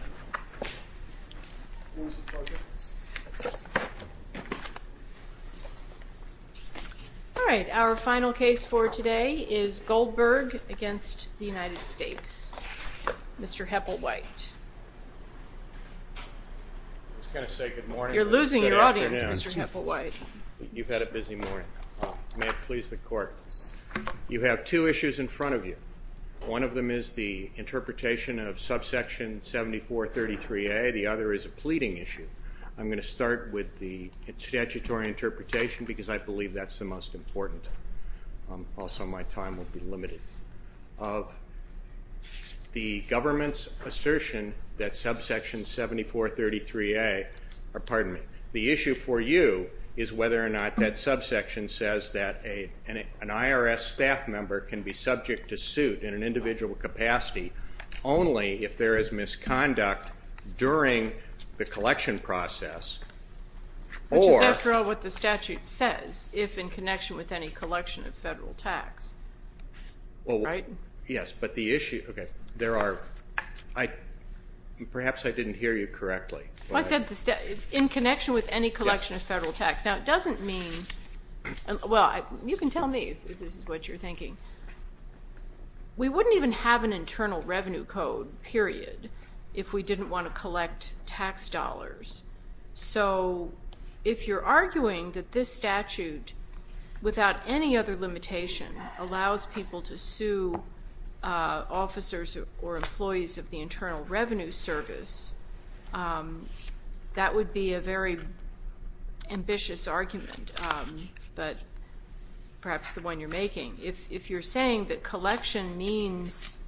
Mr. Hepplewhite, you have two issues in front of you. One of them is the interpretation of subsection 7433A. The other is a pleading issue. I'm going to start with the statutory interpretation because I believe that's the most important. Also, my time will be limited. The government's assertion that subsection 7433A, pardon me, the issue for you is whether or not that subsection says that an IRS staff member can be subject to suit in an individual capacity only if there is misconduct during the collection process or- Which is, after all, what the statute says, if in connection with any collection of federal tax. Well- Right? Yes, but the issue, okay, there are, I, perhaps I didn't hear you correctly. Well, I said in connection with any collection of federal tax. Now, it doesn't mean, well, you can tell me if this is what you're thinking. We wouldn't even have an internal revenue code, period, if we didn't want to collect tax dollars. So, if you're arguing that this statute, without any other limitation, allows people to sue officers or employees of the perhaps the one you're making, if you're saying that collection means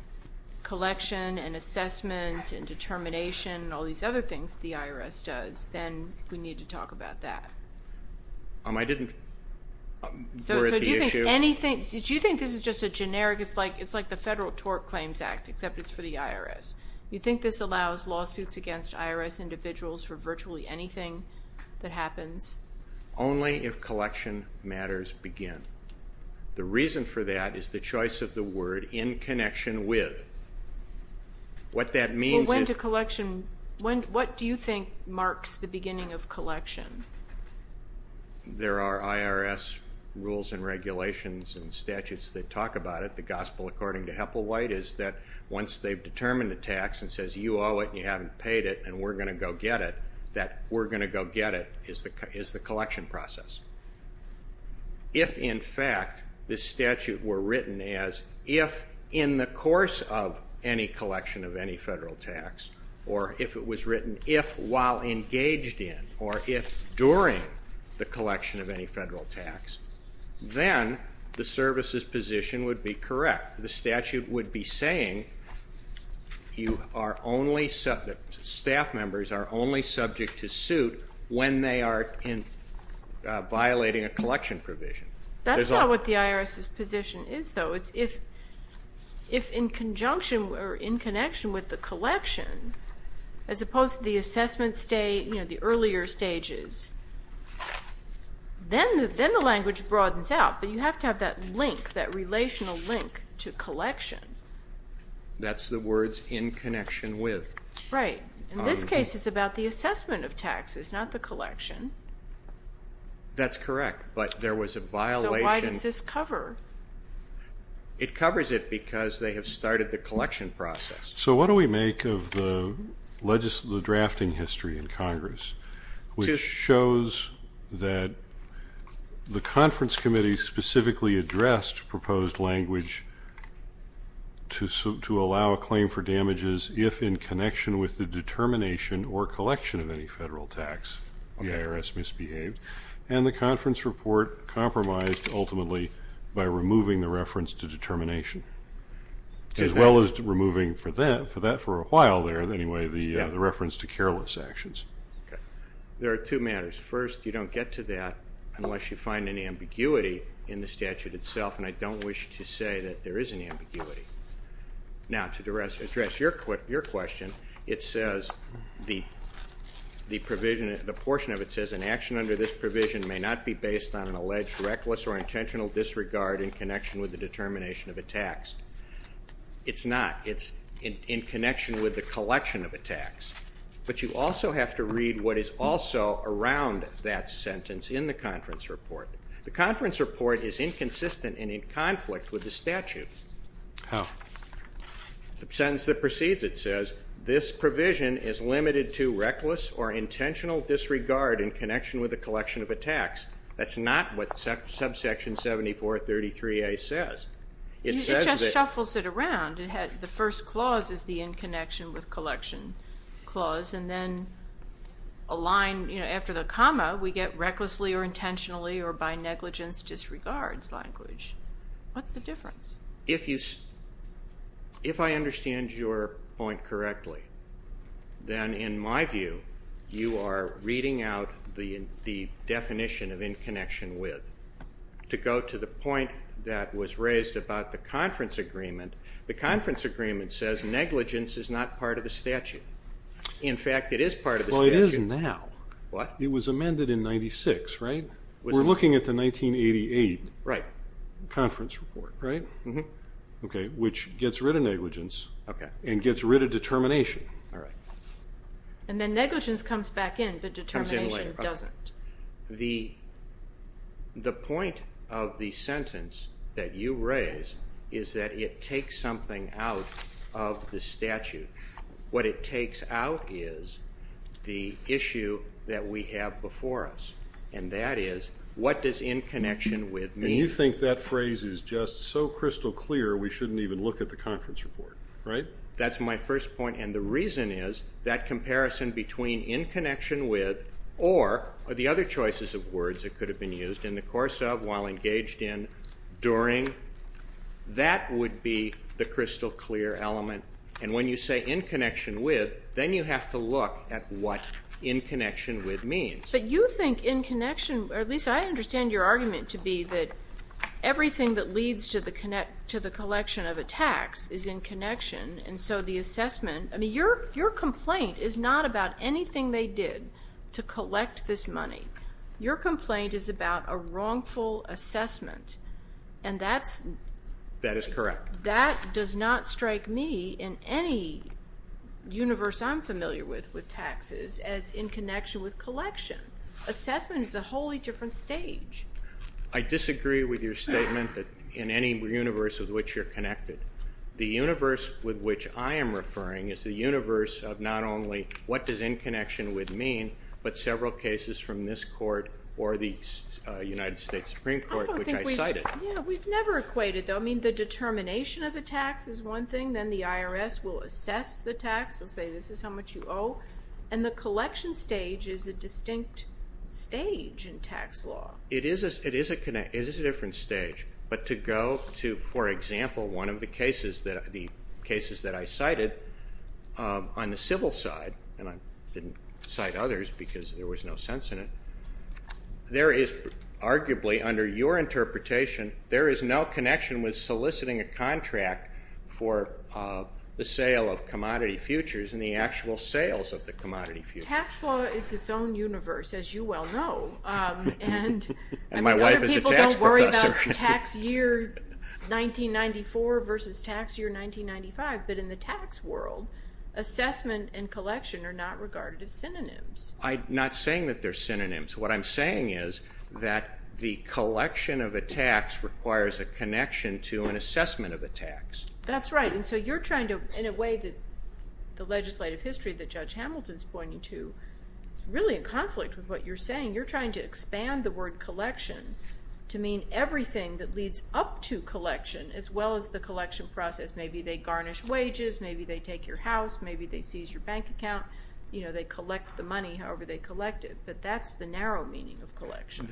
collection and assessment and determination and all these other things that the IRS does, then we need to talk about that. I didn't- So, do you think anything, do you think this is just a generic, it's like the Federal Tort Claims Act, except it's for the IRS. You think this allows lawsuits against IRS individuals for virtually anything that happens? Only if collection matters begin. The reason for that is the choice of the word in connection with. What that means- Well, when do collection, what do you think marks the beginning of collection? There are IRS rules and regulations and statutes that talk about it. The Gospel according to Heplwhite is that once they've determined a tax and says, you owe it and you haven't the collection process. If, in fact, the statute were written as, if in the course of any collection of any federal tax, or if it was written if while engaged in, or if during the collection of any federal tax, then the service's position would be correct. The statute would be saying, you are only subject, staff members are only subject to violating a collection provision. That's not what the IRS's position is, though. It's if, if in conjunction or in connection with the collection, as opposed to the assessment, you know, the earlier stages, then the language broadens out. But you have to have that link, that relational link to collection. That's the words in connection with. Right. In this case, it's about the assessment of taxes, not the collection. That's correct, but there was a violation. So why does this cover? It covers it because they have started the collection process. So what do we make of the drafting history in Congress, which shows that the conference committee specifically addressed proposed language to allow a claim for damages if in connection with the determination or collection of any federal tax, the IRS misbehaved, and the conference report compromised ultimately by removing the reference to determination, as well as removing for that, for that for a while there, anyway, the reference to careless actions. Okay. There are two matters. First, you don't get to that unless you find an ambiguity in the statute itself, and I don't wish to say that there is an ambiguity. Now, to address your question, it says, the provision, the portion of it says, an action under this provision may not be based on an alleged reckless or intentional disregard in connection with the determination of a tax. It's not. It's in connection with the collection of a tax. But you also have to read what is also around that sentence in the conference report. The conference report is inconsistent and in conflict with the statute. How? The sentence that proceeds it says, this provision is limited to reckless or intentional disregard in connection with the collection of a tax. That's not what subsection 7433A says. It says that It just shuffles it around. The first clause is the in connection with collection clause, and then a line, you know, after the comma, we get recklessly or intentionally or by negligence disregards language. What's the difference? If you, if I understand your point correctly, then in my view, you are reading out the definition of in connection with. To go to the point that was raised about the conference agreement, the conference agreement says negligence is not part of the statute. In fact, it is part of the statute. Well, it is now. What? It was amended in 96, right? We are looking at the 1988 conference report, right? Okay, which gets rid of negligence and gets rid of determination. And then negligence comes back in, but determination doesn't. The point of the sentence that you raise is that it takes something out of the statute. What it takes out is the issue that we have before us, and that is what does in connection with mean? And you think that phrase is just so crystal clear we shouldn't even look at the conference report, right? That's my first point, and the reason is that comparison between in connection with or the other choices of words that could have been used in the course of, while engaged in, during, that would be the crystal clear element. And when you say in connection with, then you have to look at what in connection with means. But you think in connection, or at least I understand your argument to be that everything that leads to the collection of a tax is in connection, and so the assessment, I mean, your complaint is not about anything they did to collect this money. Your complaint is about a wrongful assessment. And that's. That is correct. That does not strike me in any universe I'm familiar with with taxes as in connection with collection. Assessment is a wholly different stage. I disagree with your statement that in any universe with which you're connected. The universe with which I am referring is the universe of not only what does in connection with mean, but several cases from this court or the United States Supreme Court, which I cited. Yeah, we've never equated, though. I mean, the determination of a tax is one thing, then the IRS will assess the tax, they'll say this is how much you owe. And the collection stage is a distinct stage in tax law. It is a, it is a connect, it is a different stage. But to go to, for example, one of the cases that, the cases that I cited on the civil side, and I didn't cite others because there was no sense in it. There is arguably, under your interpretation, there is no connection with soliciting a contract for the sale of commodity futures and the actual sales of the commodity futures. Tax law is its own universe, as you well know. And my wife is a tax professor. And other people don't worry about tax year 1994 versus tax year 1995. But in the tax world, assessment and collection are not regarded as synonyms. I'm not saying that they're synonyms. What I'm saying is that the collection of a tax requires a connection to an assessment of a tax. That's right. And so you're trying to, in a way that the legislative history that Judge Hamilton's pointing to, it's really a conflict with what you're saying. You're trying to expand the word collection to mean everything that leads up to collection as well as the collection process. Maybe they garnish wages, maybe they take your house, maybe they seize your bank account. You know, they collect the money however they collect it. But that's the narrow meaning of collection.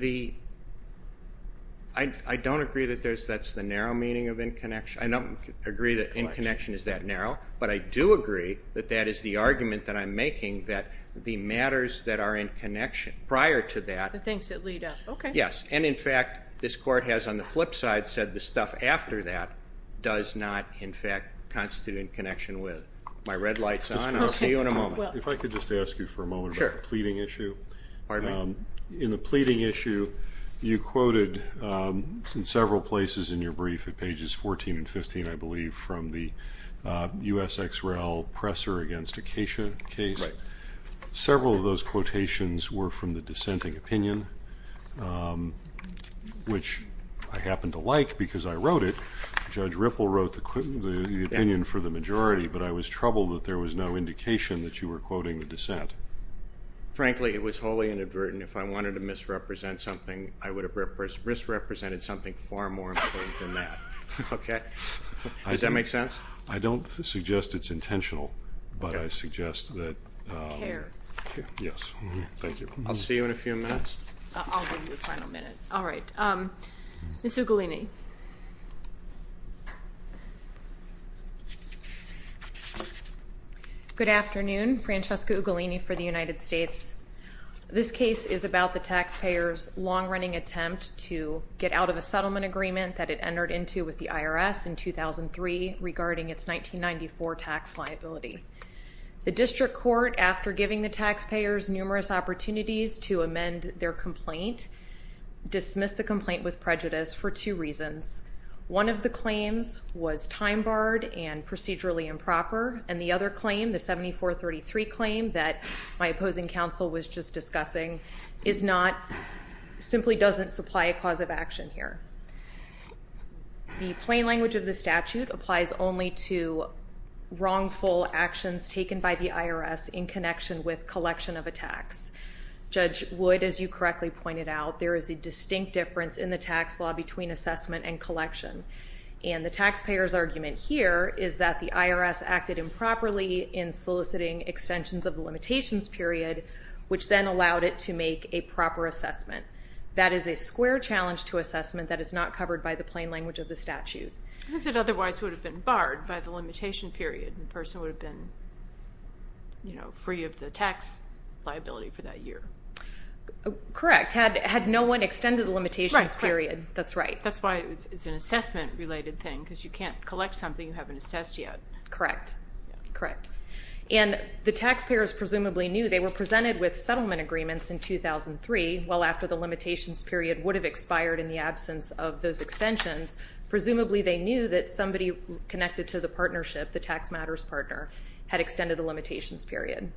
I don't agree that that's the narrow meaning of in connection. I don't agree that in connection is that narrow. But I do agree that that is the argument that I'm making that the matters that are in connection prior to that. The things that lead up. Okay. Yes. And in fact, this Court has on the flip side said the stuff after that does not in fact constitute in connection with. My red light's on. I'll see you in a moment. If I could just ask you for a moment about the pleading issue. In the pleading issue, you quoted in several places in your brief at pages 14 and 15, I believe, from the USXREL presser against Acacia case. Several of those quotations were from the dissenting opinion, which I happen to like because I wrote it. Judge Ripple wrote the opinion for the majority, but I was troubled that there was no indication that you were quoting the dissent. Frankly, it was wholly inadvertent. If I wanted to misrepresent something, I would have misrepresented something far more important than that. Okay? Does that make sense? I don't suggest it's intentional, but I suggest that... Care. Yes. Thank you. I'll see you in a few minutes. I'll give you a final minute. All right. Ms. Ugalini. Good afternoon. Francesca Ugalini for the United States. This case is about the taxpayer's long-running attempt to get out of a settlement agreement that it entered into with the IRS in 2003 regarding its 1994 tax liability. The district court, after giving the taxpayers numerous opportunities to amend their complaint, dismissed the complaint with prejudice for two reasons. One of the claims was time-barred and procedurally improper, and the other claim, the 7433 claim that my opposing counsel was just discussing, simply doesn't supply a cause of action here. The plain language of the statute applies only to wrongful actions taken by the IRS in connection with collection of attacks. Judge Wood, as you correctly pointed out, there is a distinct difference in the tax law between assessment and collection. And the taxpayer's argument here is that the IRS acted improperly in soliciting extensions of the limitations period, which then allowed it to make a proper assessment. That is a square challenge to assessment that is not covered by the plain language of the statute. Because it otherwise would have been barred by the limitation period. The person would have been, you know, free of the tax liability for that year. Correct. Had no one extended the limitations period. That's right. That's why it's an assessment-related thing, because you can't collect something you haven't assessed yet. Correct. Correct. And the taxpayers presumably knew they were presented with settlement agreements in 2003, well after the limitations period would have expired in the absence of those extensions. Presumably they knew that somebody connected to the partnership, the tax matters partner, had extended the limitations period.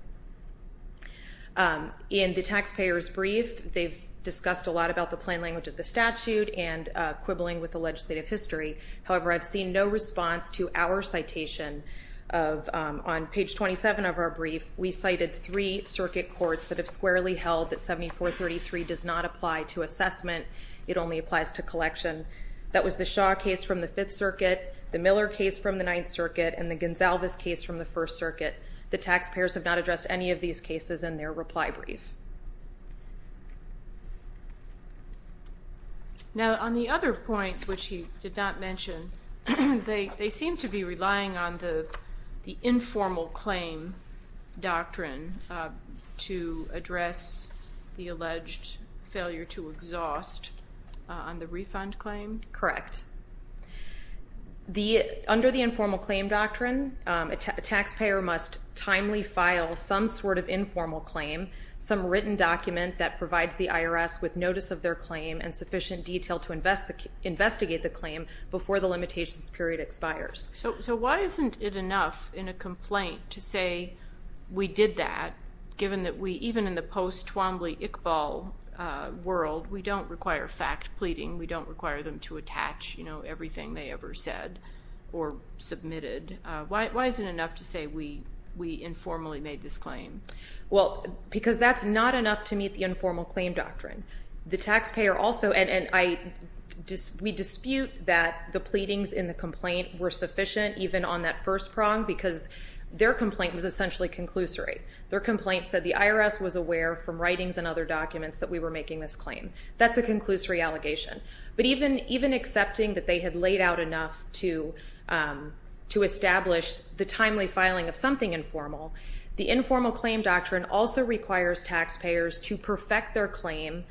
In the taxpayer's brief, they've discussed a lot about the plain language of the statute and quibbling with the legislative history. However, I've seen no response to our citation of, on page 27 of our brief, we cited three circuit courts that have squarely held that 7433 does not apply to assessment. It only applies to collection. That was the Shaw case from the Fifth Circuit, the Miller case from the Ninth Circuit, and the Gonsalves case from the First Circuit. The taxpayers have not addressed any of these cases in their reply brief. Now, on the other point, which he did not mention, they seem to be relying on the informal claim doctrine to address the alleged failure to exhaust on the refund claim. Correct. Under the informal claim doctrine, a taxpayer must timely file some sort of informal claim, some written document that provides the IRS with notice of their claim and sufficient detail to investigate the claim before the limitations period expires. So why isn't it enough in a complaint to say, we did that, given that we, even in the post-Twombly-Iqbal world, we don't require fact pleading, we don't require them to attach, you know, everything they ever said or submitted. Why is it enough to say we informally made this claim? Well, because that's not enough to meet the informal claim doctrine. The taxpayer also, and we dispute that the pleadings in the complaint were sufficient even on that first prong, because their complaint was essentially conclusory. Their complaint said the IRS was aware from writings and other documents that we were making this claim. That's a conclusory allegation. But even accepting that they had laid out enough to establish the timely filing of something informal, the informal claim doctrine also requires taxpayers to perfect their claim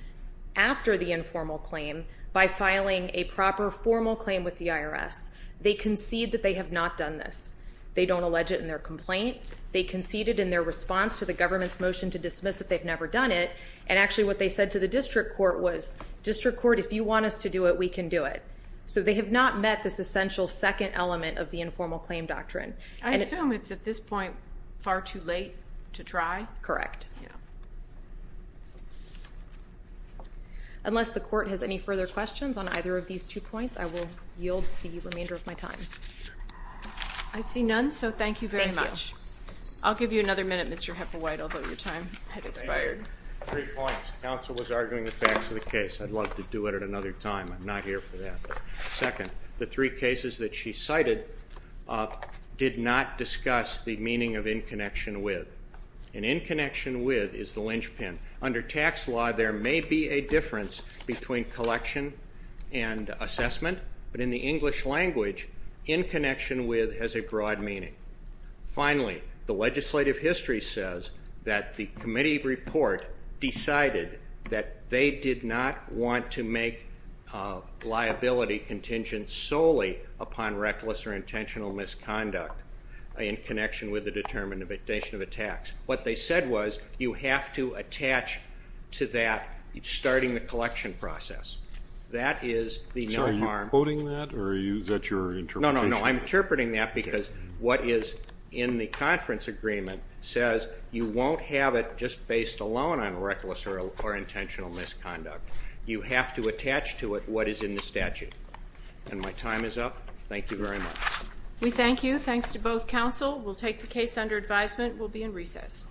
after the informal claim by filing a proper formal claim with the IRS. They concede that they have not done this. They don't allege it in their complaint. They conceded in their response to the government's motion to dismiss that they've never done it. And actually what they said to the district court was, district court, if you want us to do it, we can do it. So they have not met this essential second element of the informal claim doctrine. I assume it's at this point far too late to try? Correct. Yeah. Unless the court has any further questions on either of these two points, I will yield the remainder of my time. I see none. So thank you very much. Thank you. I'll give you another minute, Mr. Hepperwhite, although your time has expired. Three points. Counsel was arguing the facts of the case. I'd love to do it at another time. I'm not here for that. Second, the three cases that she cited did not discuss the meaning of in connection with. And in connection with is the linchpin. Under tax law, there may be a difference between collection and assessment, but in the English language, in connection with has a broad meaning. Finally, the legislative history says that the committee report decided that they did not want to make liability contingent solely upon reckless or intentional misconduct in connection with the determination of a tax. What they said was you have to attach to that starting the collection process. That is the no harm. So are you quoting that or is that your interpretation? No, no, no. I'm interpreting that because what is in the conference agreement says you won't have it just based alone on reckless or intentional misconduct. You have to attach to it what is in the statute. And my time is up. Thank you very much. We thank you. Thanks to both counsel. We'll take the case under advisement. We'll be in recess.